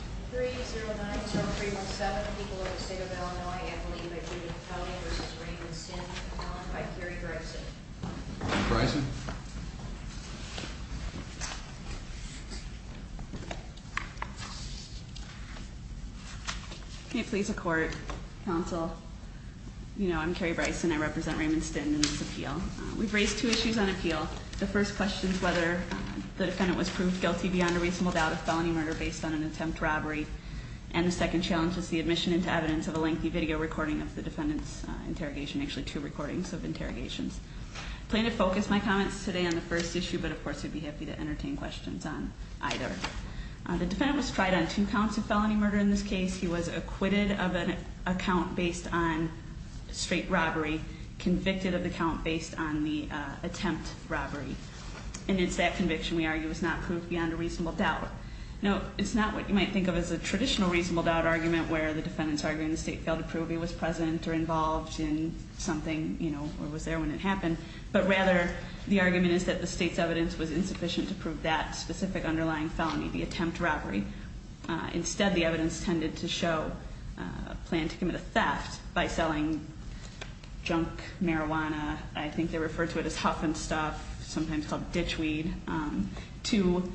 3-0-9-0-3-1-7, people of the state of Illinois, I believe I believe in felony v. Raymond Stinn, felon by Carrie Bryson. Carrie Bryson. May it please the court, counsel, you know I'm Carrie Bryson, I represent Raymond Stinn in this appeal. We've raised two issues on appeal. The first question is whether the defendant was proved guilty beyond a reasonable doubt of felony murder based on an attempt robbery. And the second challenge is the admission into evidence of a lengthy video recording of the defendant's interrogation, actually two recordings of interrogations. I plan to focus my comments today on the first issue, but of course I'd be happy to entertain questions on either. The defendant was tried on two counts of felony murder in this case. He was acquitted of an account based on straight robbery, convicted of the count based on the attempt robbery. And it's that conviction we argue is not proved beyond a reasonable doubt. No, it's not what you might think of as a traditional reasonable doubt argument, where the defendant's arguing the state failed to prove he was present or involved in something, you know, or was there when it happened. But rather, the argument is that the state's evidence was insufficient to prove that specific underlying felony, the attempt robbery. Instead, the evidence tended to show a plan to commit a theft by selling junk marijuana. I think they refer to it as huff and stuff, sometimes called ditch weed, to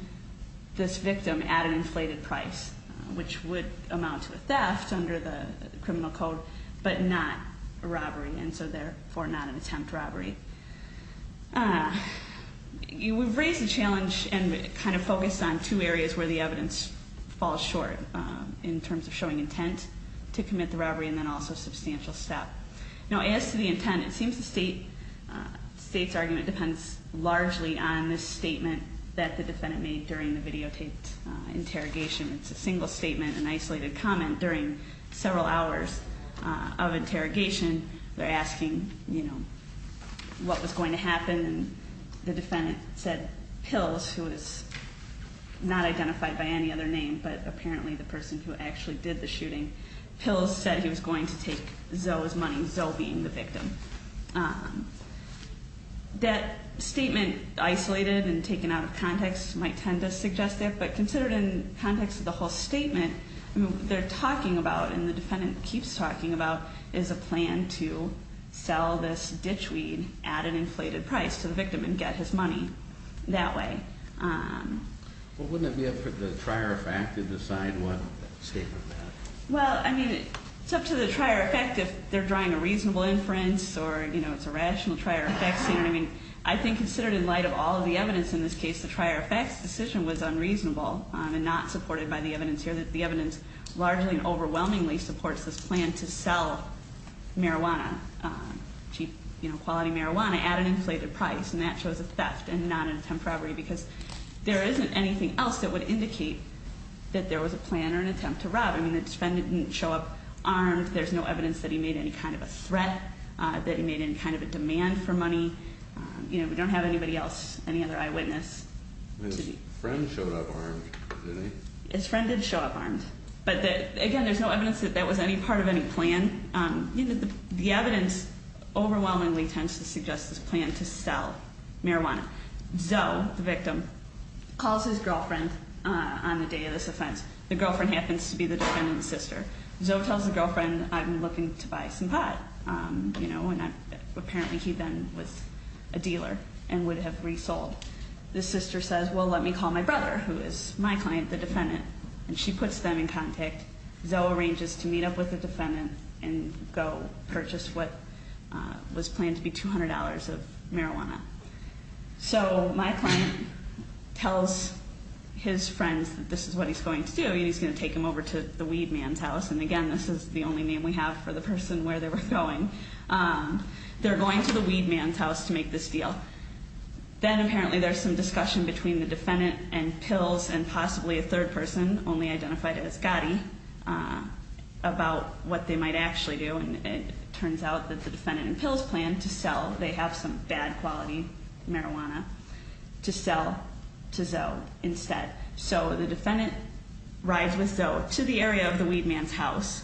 this victim at an inflated price, which would amount to a theft under the criminal code, but not a robbery, and so therefore not an attempt robbery. We've raised the challenge and kind of focused on two areas where the evidence falls short, in terms of showing intent to commit the robbery and then also substantial step. Now, as to the intent, it seems the state's argument depends largely on this statement that the defendant made during the videotaped interrogation. It's a single statement, an isolated comment during several hours of interrogation. They're asking, you know, what was going to happen, and the defendant said Pills, who is not identified by any other name but apparently the person who actually did the shooting. Pills said he was going to take Zoe's money, Zoe being the victim. That statement, isolated and taken out of context, might tend to suggest that, but considered in context of the whole statement, they're talking about, and the defendant keeps talking about, is a plan to sell this ditch weed at an inflated price to the victim and get his money that way. Well, wouldn't it be up to the trier effect to decide what statement that is? Well, I mean, it's up to the trier effect if they're drawing a reasonable inference or, you know, it's a rational trier effect statement. I mean, I think considered in light of all the evidence in this case, the trier effect's decision was unreasonable and not supported by the evidence here. The evidence largely and overwhelmingly supports this plan to sell marijuana, cheap, you know, quality marijuana at an inflated price, and that shows a theft and not an attempt robbery because there isn't anything else that would indicate that there was a plan or an attempt to rob. I mean, his friend didn't show up armed. There's no evidence that he made any kind of a threat, that he made any kind of a demand for money. You know, we don't have anybody else, any other eyewitness. His friend showed up armed, did he? His friend did show up armed, but again, there's no evidence that that was any part of any plan. You know, the evidence overwhelmingly tends to suggest this plan to sell marijuana. Zoe, the victim, calls his girlfriend on the day of this offense. The girlfriend happens to be the defendant's sister. Zoe tells the girlfriend, I'm looking to buy some pot, you know, and apparently he then was a dealer and would have resold. The sister says, well, let me call my brother, who is my client, the defendant, and she puts them in contact. Zoe arranges to meet up with the defendant and go purchase what was planned to be $200 of marijuana. So my client tells his friends that this is what he's going to do, and he's going to take them over to the weed man's house, and again, this is the only name we have for the person where they were going. They're going to the weed man's house to make this deal. Then apparently there's some discussion between the defendant and Pills, and possibly a third person, only identified as Gotti, about what they might actually do, and it turns out that the defendant and Pills plan to sell. They have some bad quality marijuana to sell to Zoe instead. So the defendant rides with Zoe to the area of the weed man's house.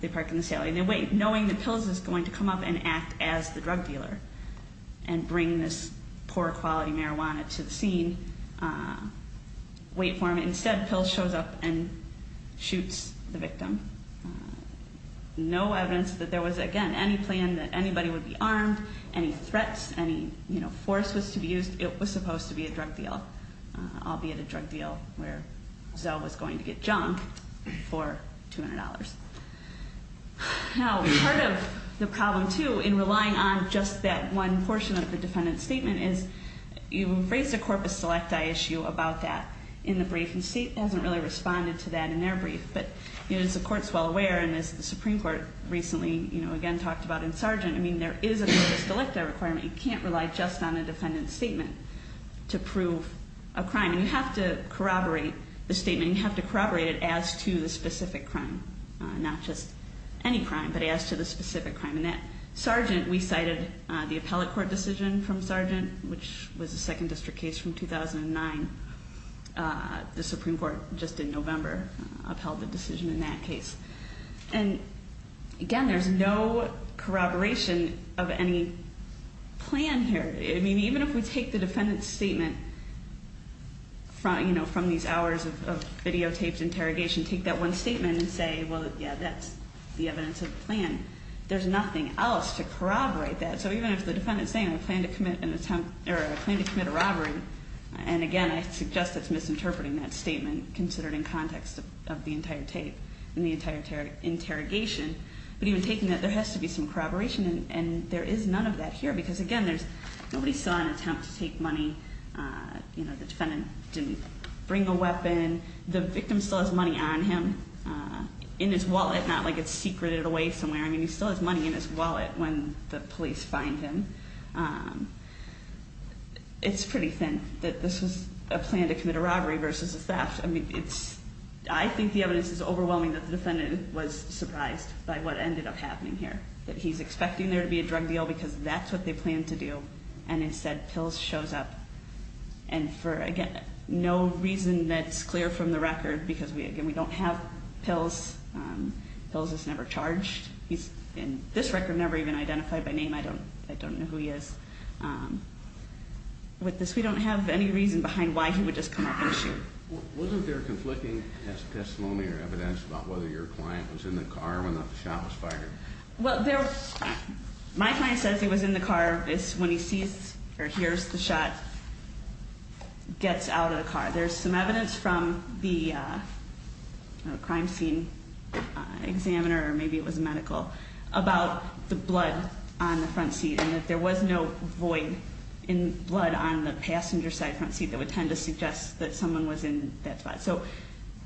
They park in the sale and they wait, knowing that Pills is going to come up and act as the drug dealer and bring this poor quality marijuana to the scene, wait for him. Instead, Pills shows up and shoots the victim. No evidence that there was, again, any plan that anybody would be armed, any threats, any force was to be used. It was supposed to be a drug deal, albeit a drug deal where Zoe was going to get jumped for $200. Now, part of the problem, too, in relying on just that one portion of the defendant's statement is you've raised a corpus selecti issue about that in the brief, and the state hasn't really responded to that in their brief, but as the Court's well aware, and as the Supreme Court recently again talked about in Sargent, I mean, there is a corpus selecti requirement. You can't rely just on a defendant's statement to prove a crime, and you have to corroborate the statement. You have to corroborate it as to the specific crime, not just any crime, but as to the specific crime. In that Sargent, we cited the appellate court decision from Sargent, which was a Second District case from 2009. The Supreme Court just in November upheld the decision in that case. And again, there's no corroboration of any plan here. I mean, even if we take the defendant's statement from these hours of videotaped interrogation, take that one statement and say, well, yeah, that's the evidence of the plan, there's nothing else to corroborate that. So even if the defendant is saying, I plan to commit an attempt or I plan to commit a robbery, and again, I suggest that's misinterpreting that statement considered in context of the entire tape and the entire interrogation, but even taking that, there has to be some corroboration, and there is none of that here, because again, nobody saw an attempt to take money. The defendant didn't bring a weapon. The victim still has money on him in his wallet, not like it's secreted away somewhere. I mean, he still has money in his wallet when the police find him. It's pretty thin that this was a plan to commit a robbery versus a theft. I think the evidence is overwhelming that the defendant was surprised by what ended up happening here, that he's expecting there to be a drug deal because that's what they planned to do, and instead pills shows up. And for, again, no reason that's clear from the record because, again, we don't have pills. Pills is never charged. This record never even identified by name. I don't know who he is. With this, we don't have any reason behind why he would just come up and shoot. Wasn't there conflicting testimony or evidence about whether your client was in the car when the shot was fired? Well, my client says he was in the car when he sees or hears the shot gets out of the car. There's some evidence from the crime scene examiner, or maybe it was medical, about the blood on the front seat and that there was no void in blood on the passenger side front seat that would tend to suggest that someone was in that spot. So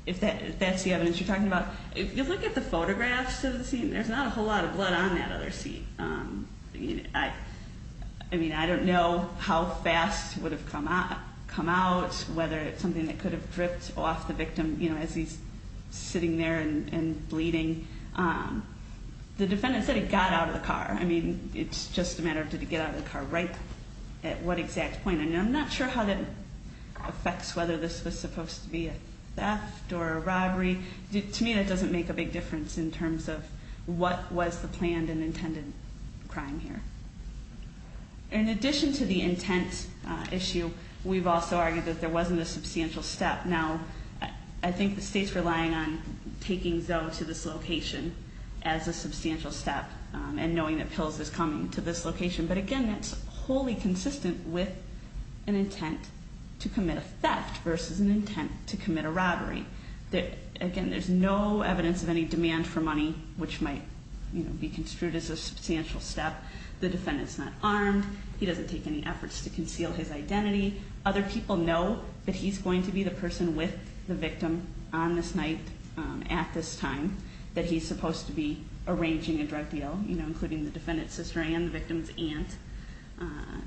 if that's the evidence you're talking about, if you look at the photographs of the scene, there's not a whole lot of blood on that other seat. I mean, I don't know how fast it would have come out, whether it's something that could have dripped off the victim as he's sitting there and bleeding. The defendant said he got out of the car. I mean, it's just a matter of did he get out of the car right at what exact point. I mean, I'm not sure how that affects whether this was supposed to be a theft or a robbery. To me, that doesn't make a big difference in terms of what was the planned and intended crime here. In addition to the intent issue, we've also argued that there wasn't a substantial step. Now, I think the state's relying on taking Zoe to this location as a substantial step and knowing that pills is coming to this location. But again, that's wholly consistent with an intent to commit a theft versus an intent to commit a robbery. Again, there's no evidence of any demand for money, which might be construed as a substantial step. The defendant's not armed. He doesn't take any efforts to conceal his identity. Other people know that he's going to be the person with the victim on this night at this time, that he's supposed to be arranging a drug deal, including the defendant's sister and the victim's aunt.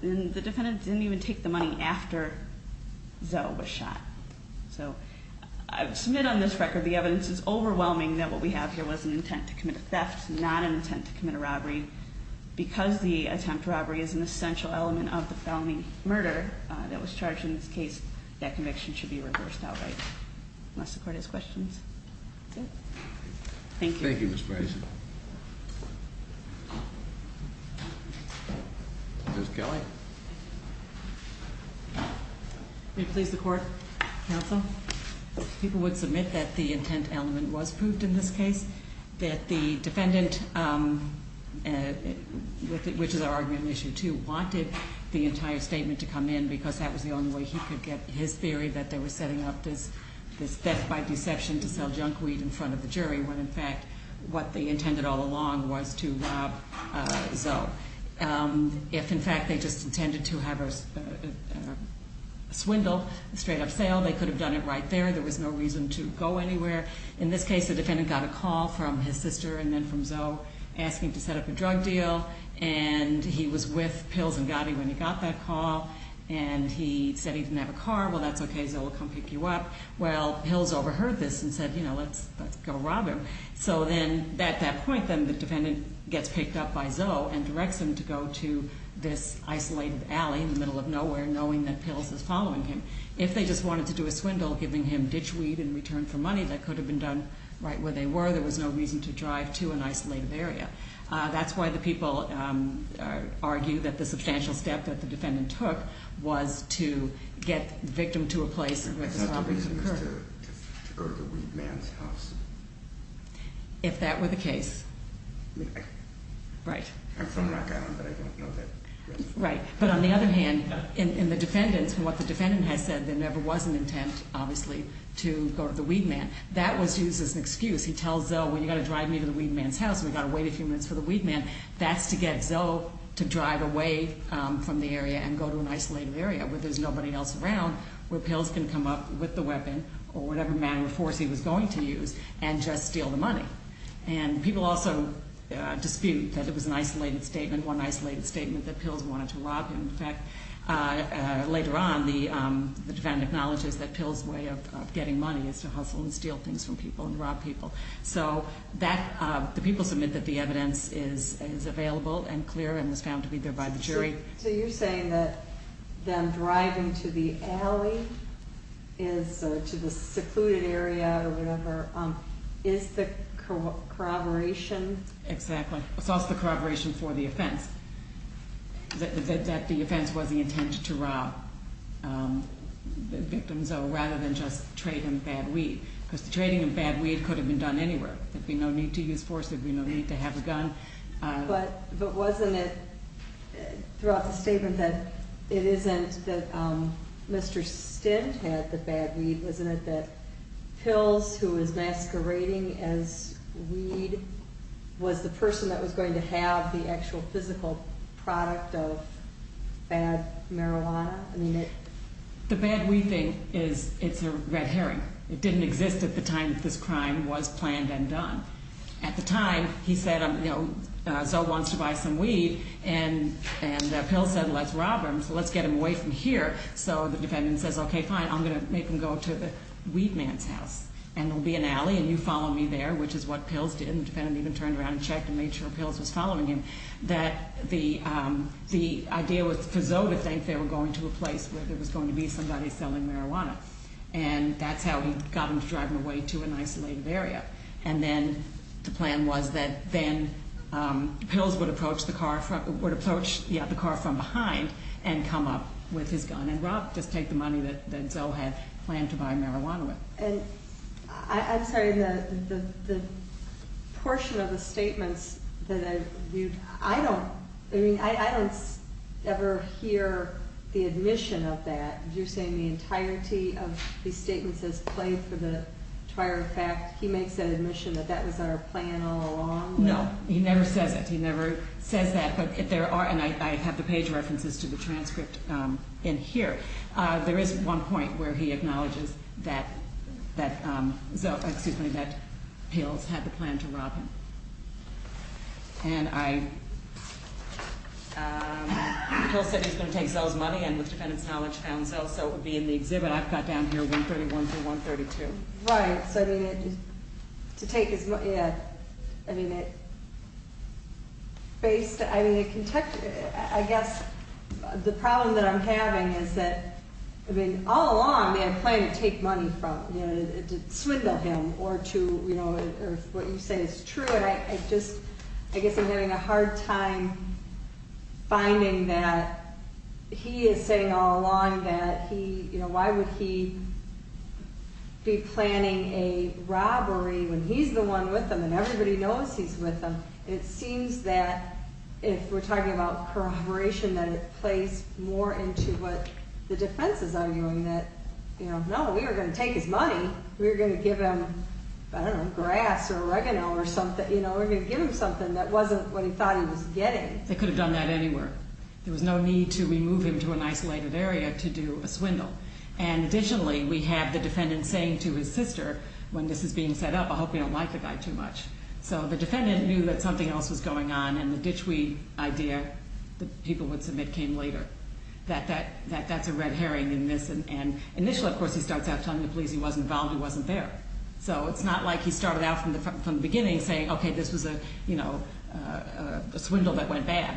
And the defendant didn't even take the money after Zoe was shot. So, I submit on this record the evidence is overwhelming that what we have here was an intent to commit a theft, not an intent to commit a robbery. Because the attempt robbery is an essential element of the felony murder that was charged in this case, that conviction should be reversed outright, unless the court has questions. That's it. Thank you. Thank you, Ms. Grayson. Ms. Kelly? May it please the Court, Counsel? People would submit that the intent element was proved in this case, that the defendant, which is our argument in Issue 2, wanted the entire statement to come in, because that was the only way he could get his theory that they were setting up this theft by deception to sell junk weed in front of the jury, when, in fact, what they intended all along was to rob Zoe. If, in fact, they just intended to have a swindle, a straight-up sale, they could have done it right there. There was no reason to go anywhere. In this case, the defendant got a call from his sister and then from Zoe asking to set up a drug deal. And he was with Pills and Gotti when he got that call. And he said he didn't have a car. Well, that's okay. Zoe will come pick you up. Well, Pills overheard this and said, you know, let's go rob him. So then at that point, then, the defendant gets picked up by Zoe and directs him to go to this isolated alley in the middle of nowhere, knowing that Pills is following him. If they just wanted to do a swindle, giving him ditch weed in return for money, that could have been done right where they were. There was no reason to drive to an isolated area. That's why the people argue that the substantial step that the defendant took was to get the victim to a place where this robbery occurred. To go to the weed man's house? If that were the case. Right. I'm from Rock Island, but I don't know that. Right. But on the other hand, in the defendant's, from what the defendant has said, there never was an intent, obviously, to go to the weed man. That was used as an excuse. He tells Zoe, well, you've got to drive me to the weed man's house and we've got to wait a few minutes for the weed man. That's to get Zoe to drive away from the area and go to an isolated area where there's nobody else around, where Pills can come up with the weapon or whatever manner of force he was going to use and just steal the money. And people also dispute that it was an isolated statement, one isolated statement, that Pills wanted to rob him. In fact, later on, the defendant acknowledges that Pills' way of getting money is to hustle and steal things from people and rob people. So the people submit that the evidence is available and clear and was found to be there by the jury. So you're saying that them driving to the alley, to the secluded area or whatever, is the corroboration? Exactly. It's also the corroboration for the offense, that the offense was the intent to rob the victim Zoe rather than just trade him bad weed. Because the trading of bad weed could have been done anywhere. There'd be no need to use force. There'd be no need to have a gun. But wasn't it throughout the statement that it isn't that Mr. Stint had the bad weed? Wasn't it that Pills, who was masquerading as weed, was the person that was going to have the actual physical product of bad marijuana? The bad weed thing, it's a red herring. It didn't exist at the time that this crime was planned and done. At the time, he said, you know, Zoe wants to buy some weed. And Pills said, let's rob him, so let's get him away from here. So the defendant says, okay, fine, I'm going to make him go to the weed man's house. And there'll be an alley and you follow me there, which is what Pills did. And the defendant even turned around and checked and made sure Pills was following him. That the idea was for Zoe to think they were going to a place where there was going to be somebody selling marijuana. And that's how he got him to drive him away to an isolated area. And then the plan was that then Pills would approach the car from behind and come up with his gun. And rob, just take the money that Zoe had planned to buy marijuana with. And I'm sorry, the portion of the statements that I viewed, I don't ever hear the admission of that. You're saying the entirety of the statement says, play for the entire fact. He makes that admission that that was our plan all along? No, he never says it. He never says that. But there are, and I have the page references to the transcript in here. There is one point where he acknowledges that Pills had the plan to rob him. And I, Pills said he was going to take Zoe's money and with defendant's knowledge found Zoe. So it would be in the exhibit I've got down here, 131 through 132. Right, so I mean it, to take his money, yeah. I mean it, based, I mean it, I guess the problem that I'm having is that, I mean all along they had planned to take money from, you know, to swindle him. Or to, you know, or what you say is true. And I just, I guess I'm having a hard time finding that he is saying all along that he, you know, why would he be planning a robbery when he's the one with him. And everybody knows he's with him. It seems that if we're talking about corroboration, that it plays more into what the defense is arguing. That, you know, no, we were going to take his money. We were going to give him, I don't know, grass or oregano or something. You know, we were going to give him something that wasn't what he thought he was getting. They could have done that anywhere. There was no need to remove him to an isolated area to do a swindle. And additionally, we have the defendant saying to his sister, when this is being set up, I hope you don't like the guy too much. So the defendant knew that something else was going on and the ditchweed idea that people would submit came later. That that's a red herring in this. And initially, of course, he starts out telling the police he wasn't involved, he wasn't there. So it's not like he started out from the beginning saying, okay, this was a, you know, a swindle that went bad.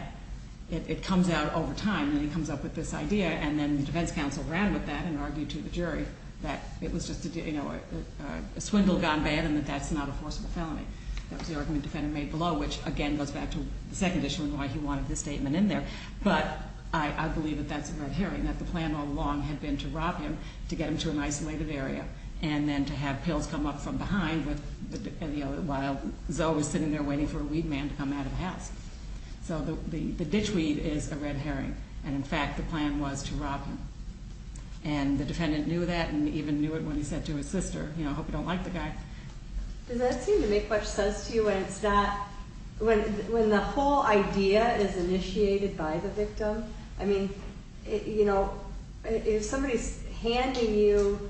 It comes out over time and he comes up with this idea. And then the defense counsel ran with that and argued to the jury that it was just a, you know, a swindle gone bad and that that's not a forcible felony. That was the argument the defendant made below, which again goes back to the second issue and why he wanted this statement in there. But I believe that that's a red herring, that the plan all along had been to rob him to get him to an isolated area and then to have pills come up from behind while Zoe was sitting there waiting for a weed man to come out of the house. So the ditchweed is a red herring. And in fact, the plan was to rob him. And the defendant knew that and even knew it when he said to his sister, you know, I hope you don't like the guy. Does that seem to make much sense to you when it's not, when the whole idea is initiated by the victim? I mean, you know, if somebody's handing you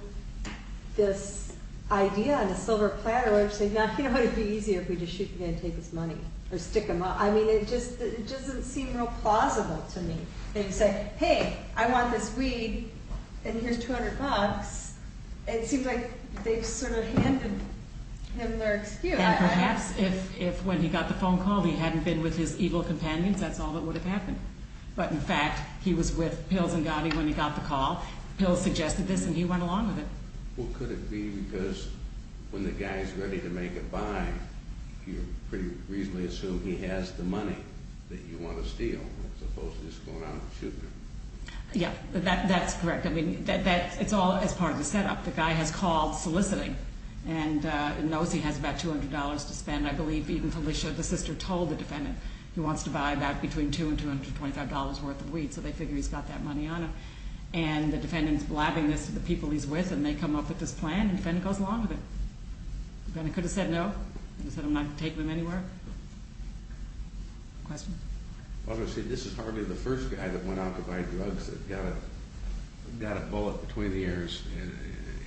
this idea on a silver platter where it's like, you know, it'd be easier if we just shoot him and take his money or stick him up. I mean, it just, it doesn't seem real plausible to me. And you say, hey, I want this weed and here's 200 bucks. It seems like they've sort of handed him their excuse. And perhaps if when he got the phone call, he hadn't been with his evil companions, that's all that would have happened. But in fact, he was with pills and Gotti when he got the call. Pills suggested this and he went along with it. Well, could it be because when the guy's ready to make a buy, you pretty reasonably assume he has the money that you want to steal? Yeah, that's correct. I mean, it's all as part of the setup. The guy has called soliciting and knows he has about $200 to spend. I believe even Felicia, the sister, told the defendant he wants to buy about between $2 and $225 worth of weed. So they figure he's got that money on him. And the defendant's blabbing this to the people he's with and they come up with this plan and the defendant goes along with it. The defendant could have said no. He could have said I'm not taking him anywhere. Question? I was going to say this is hardly the first guy that went out to buy drugs that got a bullet between the ears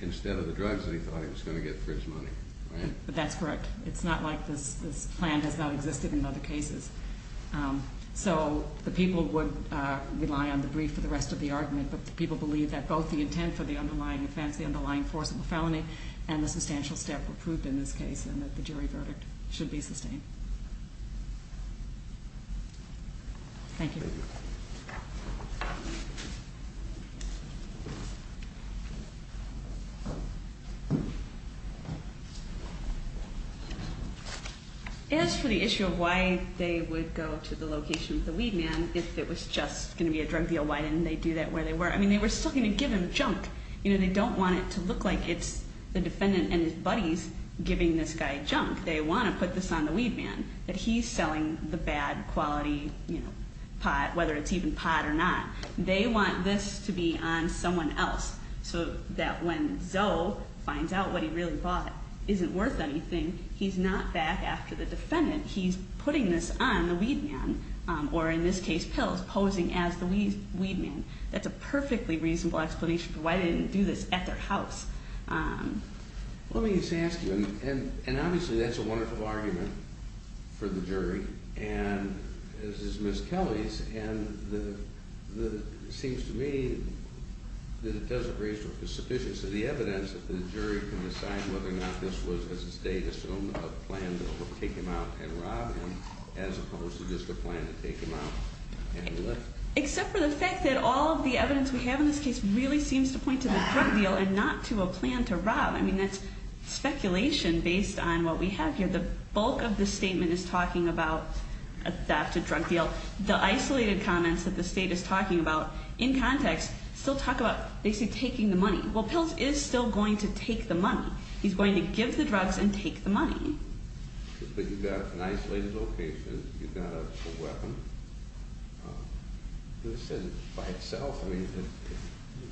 instead of the drugs that he thought he was going to get for his money, right? That's correct. It's not like this plan has not existed in other cases. So the people would rely on the brief for the rest of the argument, but the people believe that both the intent for the underlying offense, the underlying force of the felony, and the substantial step were proved in this case and that the jury verdict should be sustained. Thank you. As for the issue of why they would go to the location of the weed man if it was just going to be a drug deal, why didn't they do that where they were? I mean, they were still going to give him junk. You know, they don't want it to look like it's the defendant and his buddies giving this guy junk. They want to put this on the weed man that he's selling the bad quality pot, whether it's even pot or not. They want this to be on someone else so that when Zoe finds out what he really bought isn't worth anything, he's not back after the defendant. He's putting this on the weed man, or in this case, pills, posing as the weed man. That's a perfectly reasonable explanation for why they didn't do this at their house. Let me just ask you, and obviously that's a wonderful argument for the jury, and this is Ms. Kelly's, and it seems to me that it doesn't raise the sufficiency of the evidence that the jury can decide whether or not this was, as it states, a plan to take him out and rob him, as opposed to just a plan to take him out and lift. Except for the fact that all of the evidence we have in this case really seems to point to the drug deal and not to a plan to rob. I mean, that's speculation based on what we have here. The bulk of the statement is talking about a theft, a drug deal. The isolated comments that the state is talking about in context still talk about basically taking the money. Well, pills is still going to take the money. But you've got an isolated location, you've got a weapon. This isn't by itself, I mean,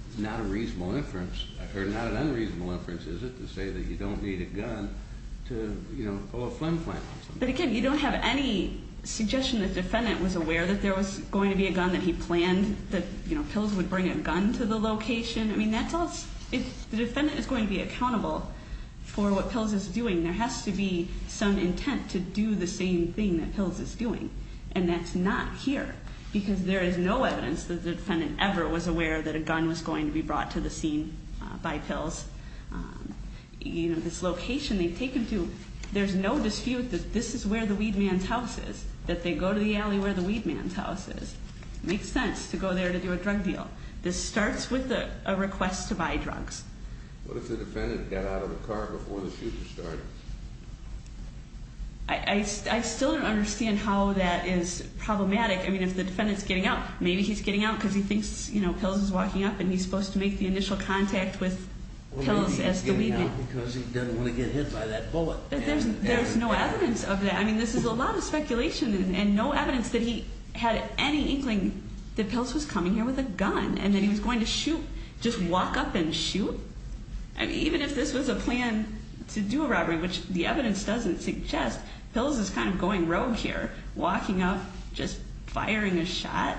it's not a reasonable inference, or not an unreasonable inference, is it, to say that you don't need a gun to, you know, pull a flim flam on somebody. But again, you don't have any suggestion that the defendant was aware that there was going to be a gun, that he planned that, you know, pills would bring a gun to the location. I mean, that tells, if the defendant is going to be accountable for what pills is doing, there has to be some intent to do the same thing that pills is doing. And that's not here, because there is no evidence that the defendant ever was aware that a gun was going to be brought to the scene by pills. You know, this location they've taken to, there's no dispute that this is where the weed man's house is, that they go to the alley where the weed man's house is. It makes sense to go there to do a drug deal. This starts with a request to buy drugs. What if the defendant got out of the car before the shooter started? I still don't understand how that is problematic. I mean, if the defendant's getting out, maybe he's getting out because he thinks, you know, pills is walking up and he's supposed to make the initial contact with pills as the weed man. Or maybe he's getting out because he doesn't want to get hit by that bullet. There's no evidence of that. I mean, this is a lot of speculation and no evidence that he had any inkling that pills was coming here with a gun and that he was going to shoot, just walk up and shoot. I mean, even if this was a plan to do a robbery, which the evidence doesn't suggest, pills is kind of going rogue here, walking up, just firing a shot.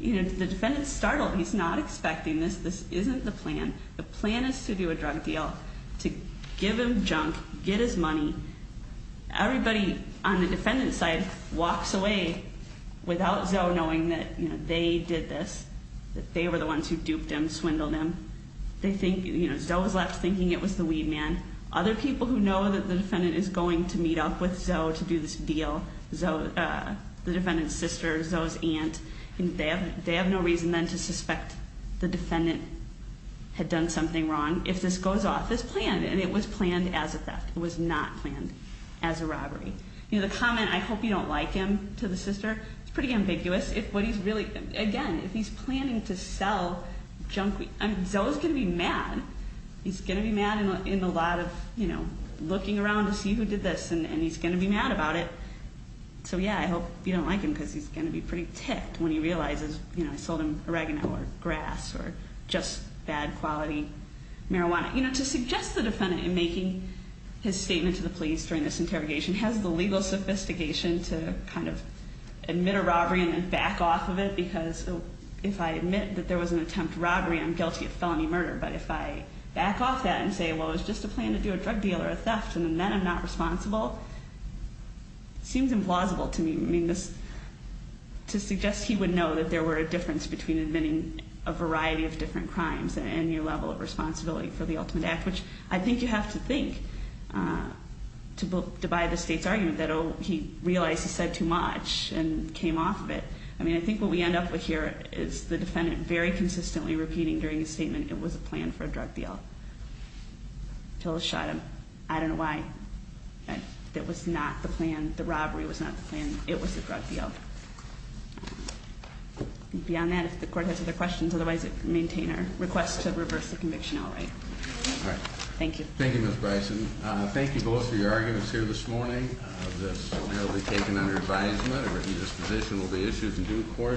You know, the defendant's startled. He's not expecting this. This isn't the plan. The plan is to do a drug deal, to give him junk, get his money. Everybody on the defendant's side walks away without Zoe knowing that, you know, they did this, that they were the ones who duped him, swindled him. They think, you know, Zoe's left thinking it was the weed man. Other people who know that the defendant is going to meet up with Zoe to do this deal, Zoe, the defendant's sister, Zoe's aunt, they have no reason then to suspect the defendant had done something wrong. If this goes off as planned, and it was planned as a theft. It was not planned as a robbery. You know, the comment, I hope you don't like him, to the sister, is pretty ambiguous. If what he's really, again, if he's planning to sell junk, I mean, Zoe's going to be mad. He's going to be mad in a lot of, you know, looking around to see who did this, and he's going to be mad about it. So, yeah, I hope you don't like him because he's going to be pretty ticked when he realizes, you know, I sold him oregano or grass or just bad quality marijuana. You know, to suggest the defendant in making his statement to the police during this interrogation has the legal sophistication to kind of admit a robbery and then back off of it because if I admit that there was an attempt robbery, I'm guilty of felony murder. But if I back off that and say, well, it was just a plan to do a drug deal or a theft, and then I'm not responsible, it seems implausible to me. I mean, this, to suggest he would know that there were a difference between admitting a variety of different crimes and your level of responsibility for the ultimate act, which I think you have to think to buy the State's argument that, oh, he realized he said too much and came off of it. I mean, I think what we end up with here is the defendant very consistently repeating during his statement it was a plan for a drug deal. Tillis shot him. I don't know why. It was not the plan. The robbery was not the plan. It was the drug deal. Beyond that, if the Court has other questions, otherwise I maintain our request to reverse the conviction outright. All right. Thank you. Thank you, Ms. Bryson. Thank you both for your arguments here this morning. This will now be taken under advisement. A written disposition will be issued in due course.